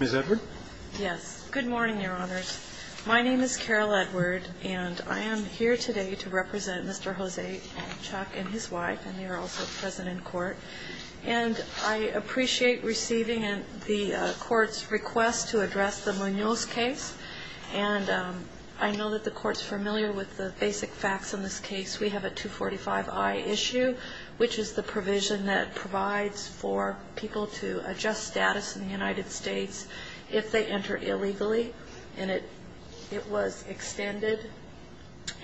Ms. Edward? Yes, good morning your honors. My name is Carol Edward and I am here today to represent Mr. Jose-Chuc and his wife and they're also present in court. And I appreciate receiving the court's request to address the Munoz case. And I know that the court's familiar with the basic facts in this case. We have a 245-I issue which is the provision that provides for people to adjust status in the United States if they enter illegally. And it was extended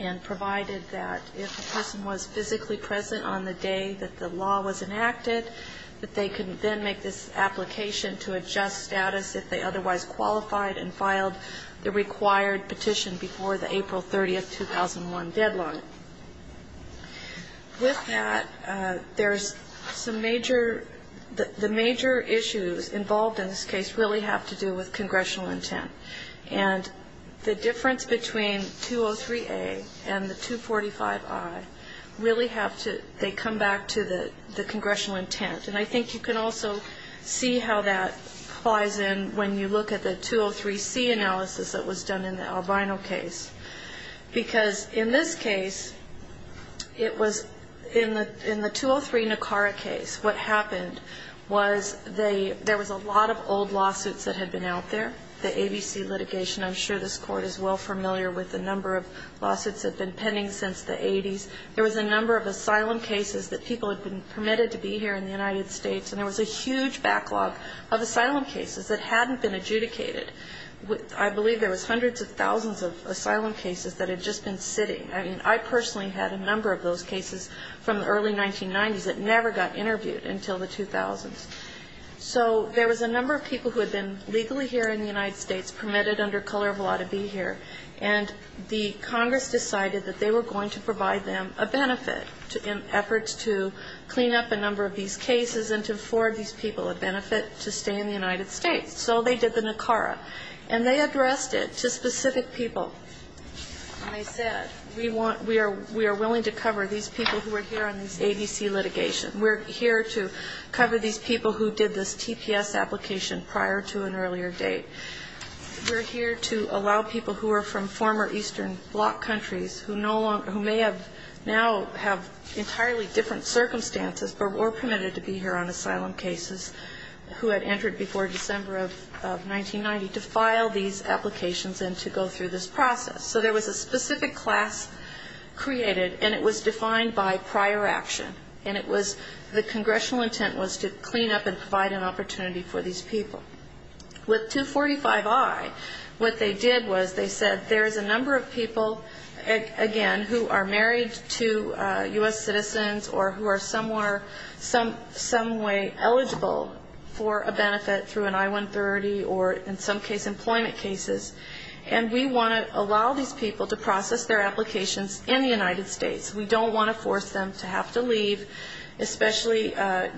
and provided that if a person was physically present on the day that the law was enacted that they could then make this application to adjust status if they otherwise qualified and filed the required petition before the April 30, 2001 deadline. With that, there's some major, the major issues involved in this case really have to do with congressional intent. And the difference between 203-A and the 245-I really have to, they come back to the congressional intent. And I think you can also see how that plies in when you look at the 203-C analysis that was done in the Albino case. Because in this case, it was, in the 203-Nakara case, what happened was they, there was a lot of old lawsuits that had been out there, the ABC litigation. I'm sure this court is well familiar with the number of lawsuits that have been pending since the 80s. There was a number of asylum cases that people had been permitted to be here in the United States. And there was a huge backlog of asylum cases that hadn't been adjudicated. I believe there was hundreds of thousands of asylum cases that had just been sitting. I mean, I personally had a number of those cases from the early 1990s that never got interviewed until the 2000s. So there was a number of people who had been legally here in the United States permitted under color of law to be here. And the Congress decided that they were going to provide them a benefit in efforts to clean up a number of these cases and to afford these people a benefit to stay in the United States. So they did the Nakara. And they addressed it to specific people. And I said, we want, we are willing to cover these people who are here on this ABC litigation. We're here to cover these people who did this TPS application prior to an earlier date. We're here to allow people who are from former Eastern Bloc countries who no longer, who may have now have entirely different circumstances, but were permitted to be here on asylum cases, who had entered before December of 1990, to file these applications and to go through this process. So there was a specific class created. And it was defined by prior action. And it was, the congressional intent was to clean up and provide an opportunity for these people. With 245i, what they did was they said, there is a number of people, again, who are married to U.S. citizens or who are some way eligible for a benefit through an I-130 or in some cases employment cases. And we want to allow these people to process their applications in the United States. We don't want to force them to have to leave, especially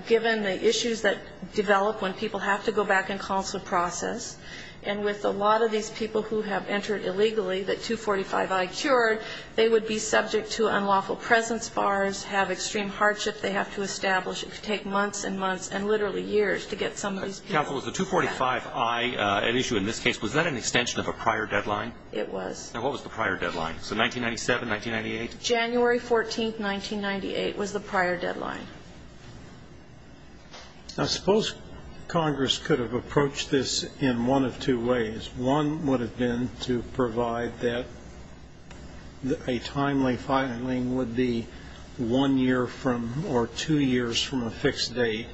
given the issues that develop when people have to go back and counsel a process. And with a lot of these people who have entered illegally, that 245i cured, they would be subject to unlawful presence bars, have extreme hardship they have to establish. It could take months and months and literally years to get some of these people back. Counsel, was the 245i at issue in this case, was that an extension of a prior deadline? It was. Now, what was the prior deadline? So 1997, 1998? January 14th, 1998 was the prior deadline. I suppose Congress could have approached this in one of two ways. One would have been to provide that a timely filing would be one year from or two years from a fixed date,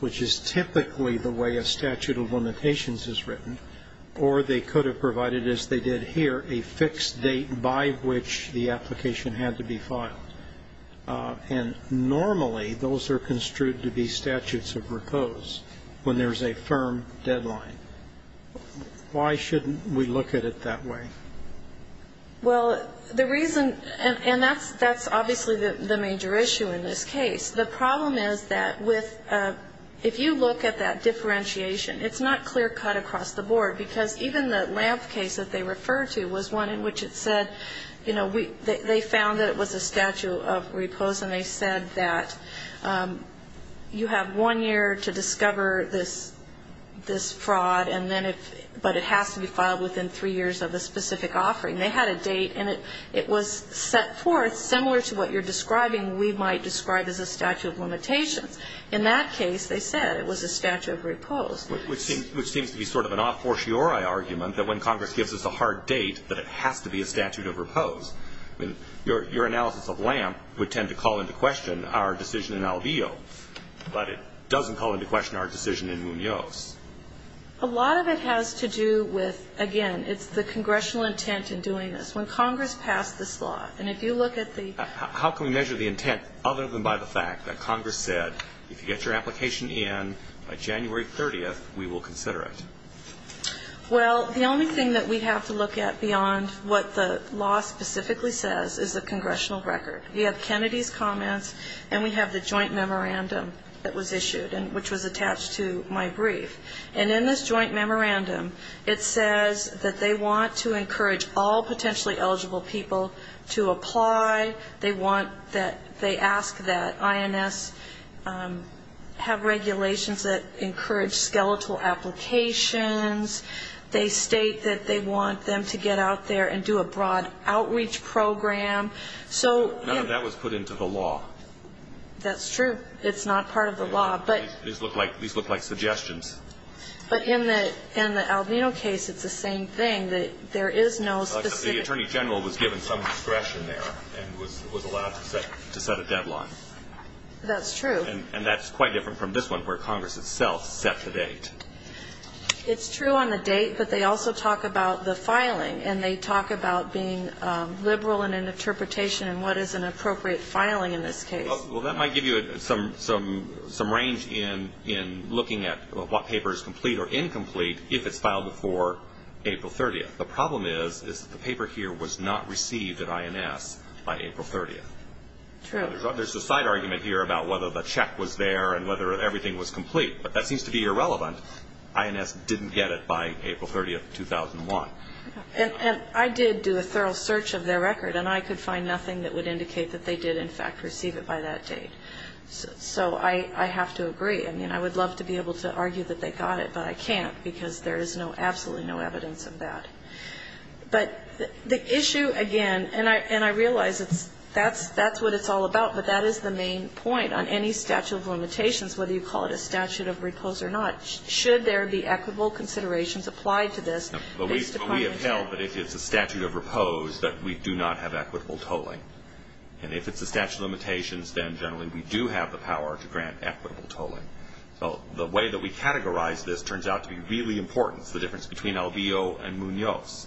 which is typically the way a statute of limitations is written. Or they could have provided, as they did here, a fixed date by which the application had to be filed. And normally those are construed to be statutes of repose when there's a firm deadline. Why shouldn't we look at it that way? Well, the reason, and that's obviously the major issue in this case. The problem is that with, if you look at that differentiation, it's not clear cut across the board. Because even the Lampf case that they refer to was one in which it said, you know, they found that it was a statute of repose. And they said that you have one year to discover this fraud. And then if, but it has to be filed within three years of a specific offering. They had a date, and it was set forth similar to what you're describing we might describe as a statute of limitations. In that case, they said it was a statute of repose. Which seems to be sort of an off-fortiori argument that when Congress gives us a hard date, that it has to be a statute of repose. Your analysis of Lampf would tend to call into question our decision in Albio. But it doesn't call into question our decision in Munoz. A lot of it has to do with, again, it's the congressional intent in doing this. When Congress passed this law, and if you look at the How can we measure the intent other than by the fact that Congress said, if you get your application in by January 30th, we will consider it? Well, the only thing that we have to look at beyond what the law specifically says is the congressional record. We have Kennedy's comments, and we have the joint memorandum that was issued, which was attached to my brief. And in this joint memorandum, it says that they want to encourage all potentially eligible people to apply. They want that, they ask that INS have regulations that encourage skeletal applications. They state that they want them to get out there and do a broad outreach program. None of that was put into the law. That's true. It's not part of the law. These look like suggestions. But in the Albino case, it's the same thing. The Attorney General was given some discretion there and was allowed to set a deadline. That's true. And that's quite different from this one, where Congress itself set the date. It's true on the date. But they also talk about the filing, and they talk about being liberal in an interpretation and what is an appropriate filing in this case. Well, that might give you some range in looking at what paper is complete or incomplete if it's filed before April 30th. The problem is that the paper here was not received at INS by April 30th. True. There's a side argument here about whether the check was there and whether everything was complete, but that seems to be irrelevant. INS didn't get it by April 30th, 2001. And I did do a thorough search of their record, and I could find nothing that would indicate that they did, in fact, receive it by that date. So I have to agree. I mean, I would love to be able to argue that they got it, but I can't, because there is absolutely no evidence of that. But the issue, again, and I realize that's what it's all about, but that is the main point on any statute of limitations, whether you call it a statute of repose or not, should there be equitable considerations applied to this. But we have held that if it's a statute of repose, that we do not have equitable tolling. And if it's a statute of limitations, then generally we do have the power to grant equitable tolling. So the way that we categorize this turns out to be really important is the difference between Albio and Munoz.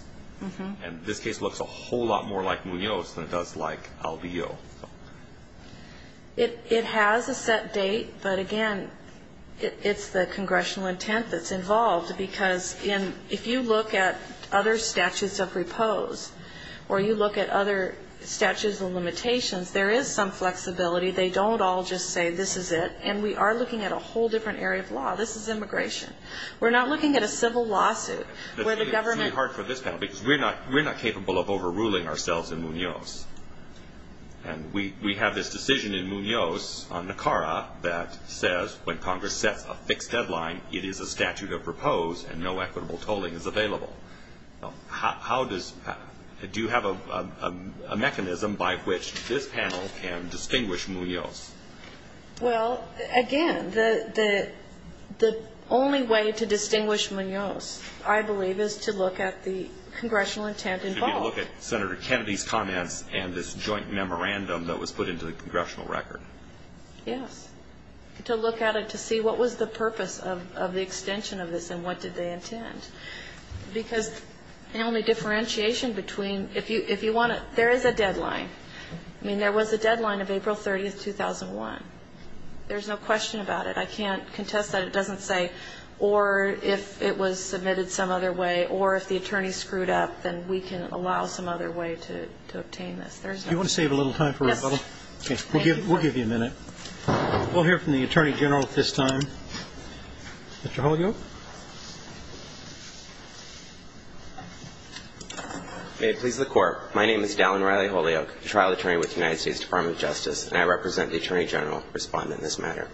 And this case looks a whole lot more like Munoz than it does like Albio. It has a set date, but again, it's the congressional intent that's involved, because if you look at other statutes of repose, or you look at other statutes of limitations, there is some flexibility. They don't all just say this is it. And we are looking at a whole different area of law. This is immigration. We're not looking at a civil lawsuit where the government... It's really hard for this panel, because we're not capable of overruling ourselves in Munoz. And we have this decision in Munoz on NACARA that says when Congress sets a fixed deadline, it is a statute of repose and no equitable tolling is available. Do you have a mechanism by which this panel can distinguish Munoz? Well, again, the only way to distinguish Munoz, I believe, is to look at the congressional intent involved. It would be to look at Senator Kennedy's comments and this joint memorandum that was put into the congressional record. Yes. To look at it to see what was the purpose of the extension of this and what did they intend. I mean, there was a deadline of April 30, 2001. There's no question about it. I can't contest that. It doesn't say, or if it was submitted some other way, or if the attorney screwed up, then we can allow some other way to obtain this. There's no... Do you want to save a little time for rebuttal? Yes. Okay. We'll give you a minute. Mr. Holyoke? May it please the Court. My name is Dallin Riley Holyoke, trial attorney with the United States Department of Justice, and I represent the Attorney General responding in this matter.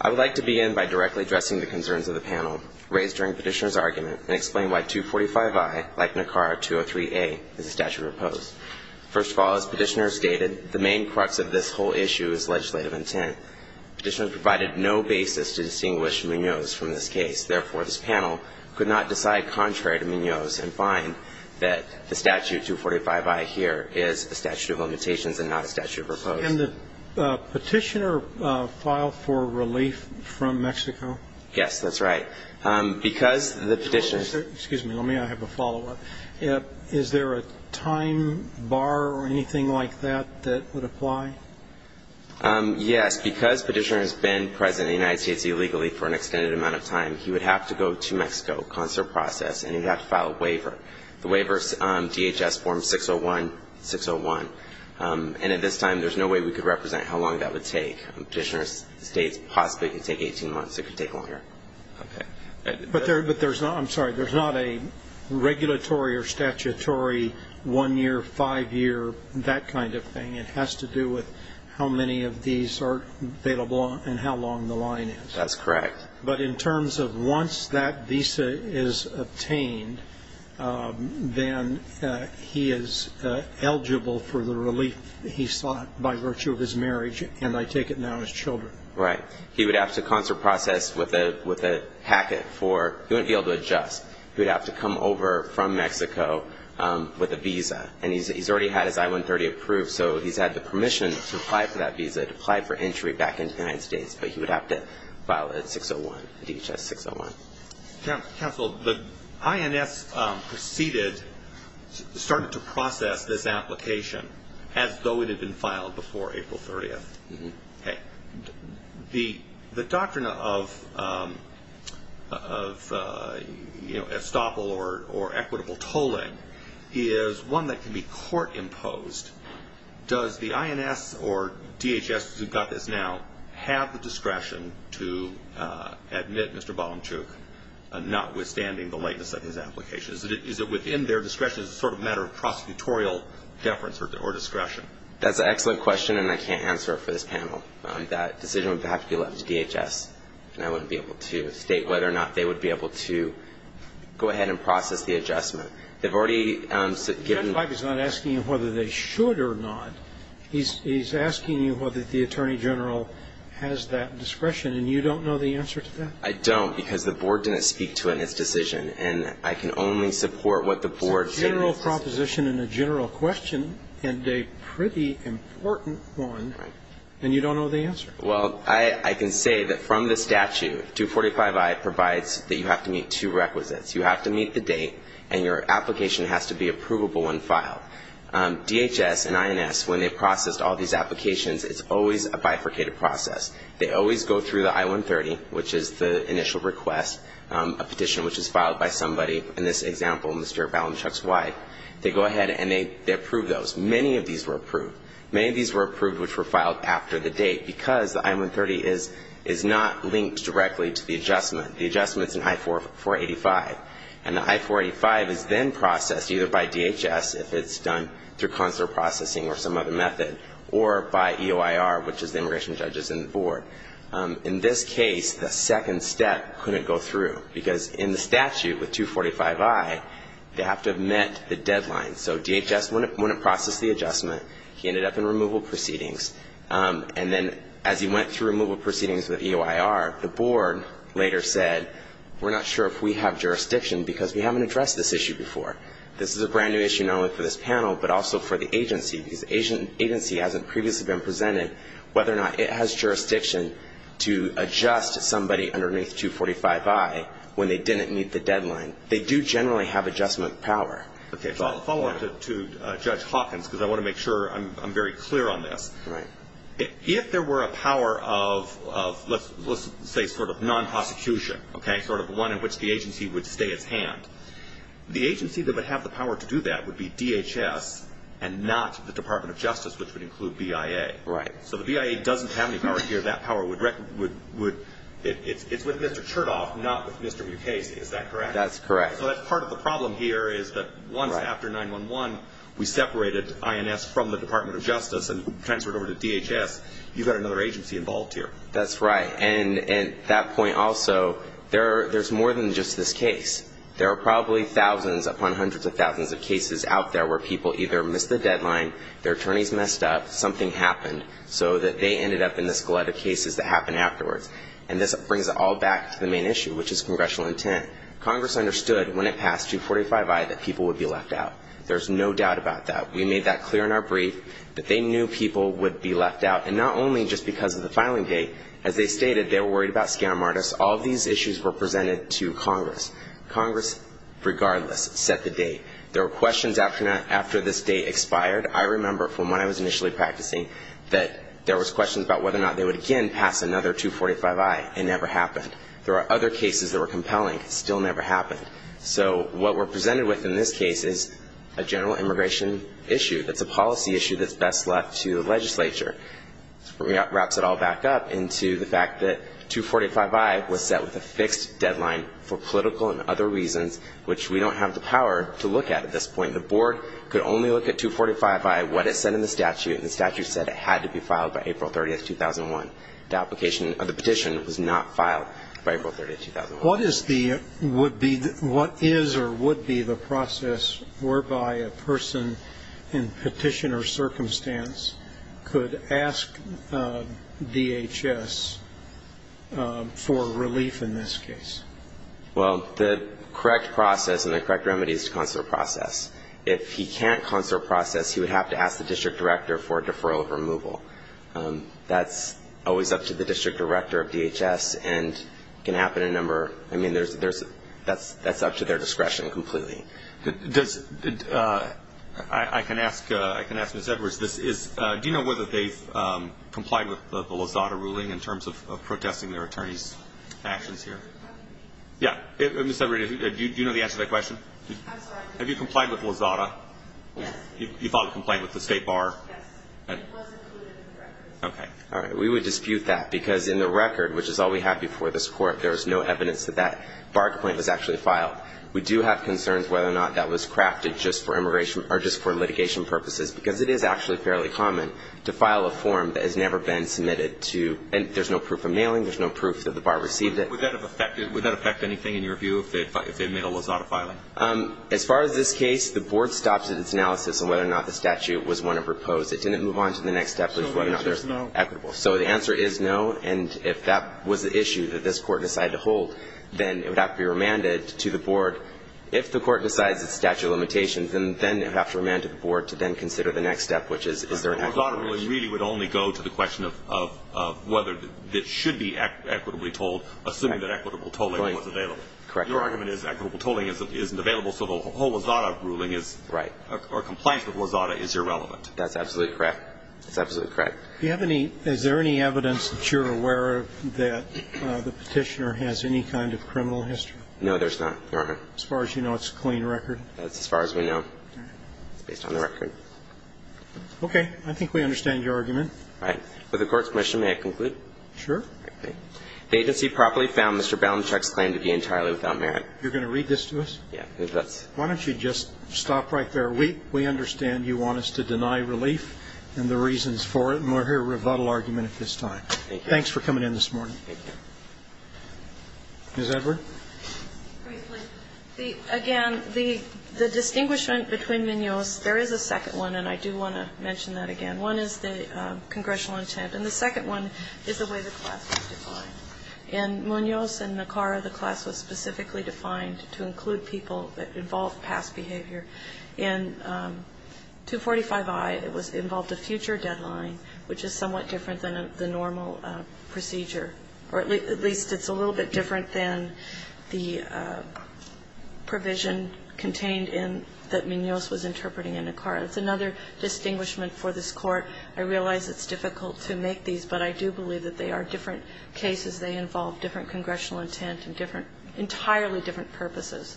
I would like to begin by directly addressing the concerns of the panel raised during Petitioner's argument and explain why 245I, like NACAR 203A, is a statute of oppose. First of all, as Petitioner has stated, the main crux of this whole issue is legislative intent. Petitioner provided no basis to distinguish Munoz from this case. Therefore, this panel could not decide contrary to Munoz and find that the statute 245I here is a statute of limitations and not a statute of oppose. And did Petitioner file for relief from Mexico? Yes, that's right. Because the Petitioner... Excuse me. Let me have a follow-up. Is there a time bar or anything like that that would apply? Yes. Because Petitioner has been present in the United States illegally for an extended amount of time, he would have to go to Mexico, concert process, and he would have to file a waiver. The waiver is DHS form 601-601. And at this time, there's no way we could represent how long that would take. Petitioner states possibly it could take 18 months. It could take longer. Okay. But there's not a regulatory or statutory one-year, five-year, that kind of thing. It has to do with how many of these are available and how long the line is. That's correct. But in terms of once that visa is obtained, then he is eligible for the relief he sought by virtue of his marriage, and I take it now as children. Right. He would have to concert process with a packet for he wouldn't be able to adjust. He would have to come over from Mexico with a visa. And he's already had his I-130 approved, so he's had the permission to apply for that visa, apply for entry back into the United States, but he would have to file it at 601, DHS 601. Counsel, the INS proceeded, started to process this application as though it had been filed before April 30th. Okay. The doctrine of, you know, estoppel or equitable tolling is one that can be court imposed. Does the INS or DHS, who got this now, have the discretion to admit Mr. Balanchuk, notwithstanding the lateness of his application? Is it within their discretion as a sort of matter of prosecutorial deference or discretion? That's an excellent question, and I can't answer it for this panel. That decision would have to be left to DHS, and I wouldn't be able to state whether or not they would be able to go ahead and process the adjustment. They've already given ---- Well, 245 is not asking whether they should or not. He's asking you whether the attorney general has that discretion, and you don't know the answer to that? I don't, because the board didn't speak to it in its decision, and I can only support what the board said. It's a general proposition and a general question, and a pretty important one, and you don't know the answer. Well, I can say that from the statute, 245I provides that you have to meet two requisites. You have to meet the date, and your application has to be approvable when filed. DHS and INS, when they processed all these applications, it's always a bifurcated process. They always go through the I-130, which is the initial request, a petition which is filed by somebody. In this example, Mr. Balanchuk's wife, they go ahead and they approve those. Many of these were approved. Many of these were approved which were filed after the date, because the I-130 is not linked directly to the adjustment. The adjustment's in I-485, and the I-485 is then processed either by DHS, if it's done through consular processing or some other method, or by EOIR, which is the immigration judges in the board. In this case, the second step couldn't go through, because in the statute with 245I, they have to have met the deadline. So DHS wouldn't process the adjustment. He ended up in removal proceedings, and then as he went through removal proceedings with EOIR, the board later said, we're not sure if we have jurisdiction, because we haven't addressed this issue before. This is a brand-new issue not only for this panel, but also for the agency, because the agency hasn't previously been presented whether or not it has jurisdiction to adjust somebody underneath 245I when they didn't meet the deadline. They do generally have adjustment power. Okay, so I'll follow up to Judge Hawkins, because I want to make sure I'm very clear on this. If there were a power of, let's say, sort of non-prosecution, okay, sort of one in which the agency would stay its hand, the agency that would have the power to do that would be DHS and not the Department of Justice, which would include BIA. Right. So the BIA doesn't have any power here. That power would, it's with Mr. Chertoff, not with Mr. Mukase, is that correct? That's correct. So that's part of the problem here is that once after 9-1-1 we separated INS from the Department of Justice and transferred over to DHS, you've got another agency involved here. That's right. And that point also, there's more than just this case. There are probably thousands upon hundreds of thousands of cases out there where people either missed the deadline, their attorneys messed up, something happened, so that they ended up in this glut of cases that happened afterwards. And this brings it all back to the main issue, which is congressional intent. Congress understood when it passed 245I that people would be left out. There's no doubt about that. We made that clear in our brief that they knew people would be left out, and not only just because of the filing date. As they stated, they were worried about scam artists. All of these issues were presented to Congress. Congress, regardless, set the date. There were questions after this date expired. I remember from when I was initially practicing that there was questions about whether or not they would again pass another 245I, and it never happened. There were other cases that were compelling. It still never happened. So what we're presented with in this case is a general immigration issue. It's a policy issue that's best left to the legislature. It wraps it all back up into the fact that 245I was set with a fixed deadline for political and other reasons, which we don't have the power to look at at this point. The board could only look at 245I, what it said in the statute, and the statute said it had to be filed by April 30, 2001. The application of the petition was not filed by April 30, 2001. What is the or would be the process whereby a person in petitioner circumstance could ask DHS for relief in this case? Well, the correct process and the correct remedy is to consult a process. If he can't consult a process, he would have to ask the district director for a deferral of removal. That's always up to the district director of DHS and can happen in a number. I mean, that's up to their discretion completely. I can ask Ms. Edwards this. Do you know whether they've complied with the Lozada ruling in terms of protesting their attorney's actions here? Yeah. Ms. Edwards, do you know the answer to that question? I'm sorry? Have you complied with Lozada? Yes. You filed a complaint with the state bar? Yes. It was included in the record. Okay. All right. We would dispute that because in the record, which is all we have before this Court, there is no evidence that that bar complaint was actually filed. We do have concerns whether or not that was crafted just for litigation purposes because it is actually fairly common to file a form that has never been submitted to – and there's no proof of mailing. There's no proof that the bar received it. Would that affect anything in your view if the mail Lozada filing? As far as this case, the Board stopped its analysis on whether or not the statute was one to propose. It didn't move on to the next step, which was whether or not it was equitable. So the answer is no. So the answer is no, and if that was the issue that this Court decided to hold, then it would have to be remanded to the Board. If the Court decides it's statute of limitations, then it would have to remand to the Board to then consider the next step, which is, is there an equitable action? The Lozada ruling really would only go to the question of whether it should be equitably told, assuming that equitable tolling was available. Correct. Your argument is equitable tolling isn't available, so the whole Lozada ruling is – Right. Or compliance with Lozada is irrelevant. That's absolutely correct. That's absolutely correct. Do you have any – is there any evidence that you're aware of that the Petitioner has any kind of criminal history? No, there's not, Your Honor. As far as you know, it's a clean record? That's as far as we know. All right. It's based on the record. Okay. I think we understand your argument. All right. Would the Court's permission may I conclude? Sure. The agency properly found Mr. Balanchuk's claim to be entirely without merit. You're going to read this to us? Yeah. Why don't you just stop right there? We understand you want us to deny relief and the reasons for it, and we'll hear a rebuttal argument at this time. Thank you. Thanks for coming in this morning. Thank you. Ms. Edward? Briefly. Again, the distinguishment between Munoz, there is a second one, and I do want to mention that again. One is the congressional intent, and the second one is the way the class was defined. In Munoz and Nicara, the class was specifically defined to include people that involved past behavior. In 245I, it involved a future deadline, which is somewhat different than the normal procedure, or at least it's a little bit different than the provision contained in that Munoz was interpreting in Nicara. It's another distinguishment for this Court. I realize it's difficult to make these, but I do believe that they are different cases. They involve different congressional intent and different entirely different purposes.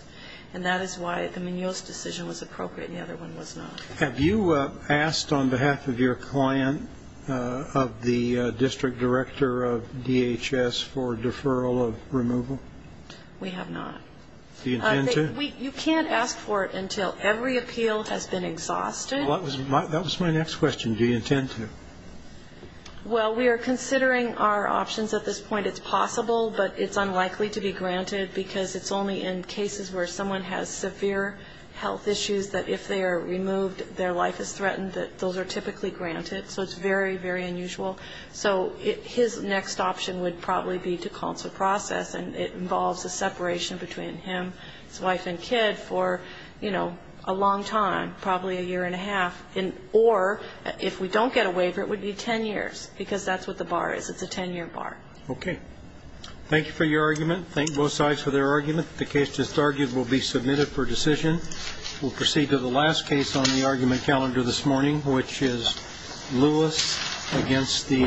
And that is why the Munoz decision was appropriate and the other one was not. Have you asked on behalf of your client, of the district director of DHS, for deferral of removal? We have not. Do you intend to? You can't ask for it until every appeal has been exhausted. Well, that was my next question. Do you intend to? Well, we are considering our options at this point. It's possible, but it's unlikely to be granted because it's only in cases where someone has severe health issues that if they are removed, their life is threatened, that those are typically granted. So it's very, very unusual. So his next option would probably be to counsel process, and it involves a separation between him. His wife and kid for, you know, a long time, probably a year and a half, or if we don't get a waiver, it would be ten years because that's what the bar is. It's a ten-year bar. Okay. Thank you for your argument. Thank both sides for their argument. The case that's argued will be submitted for decision. We'll proceed to the last case on the argument calendar this morning, which is Lewis against the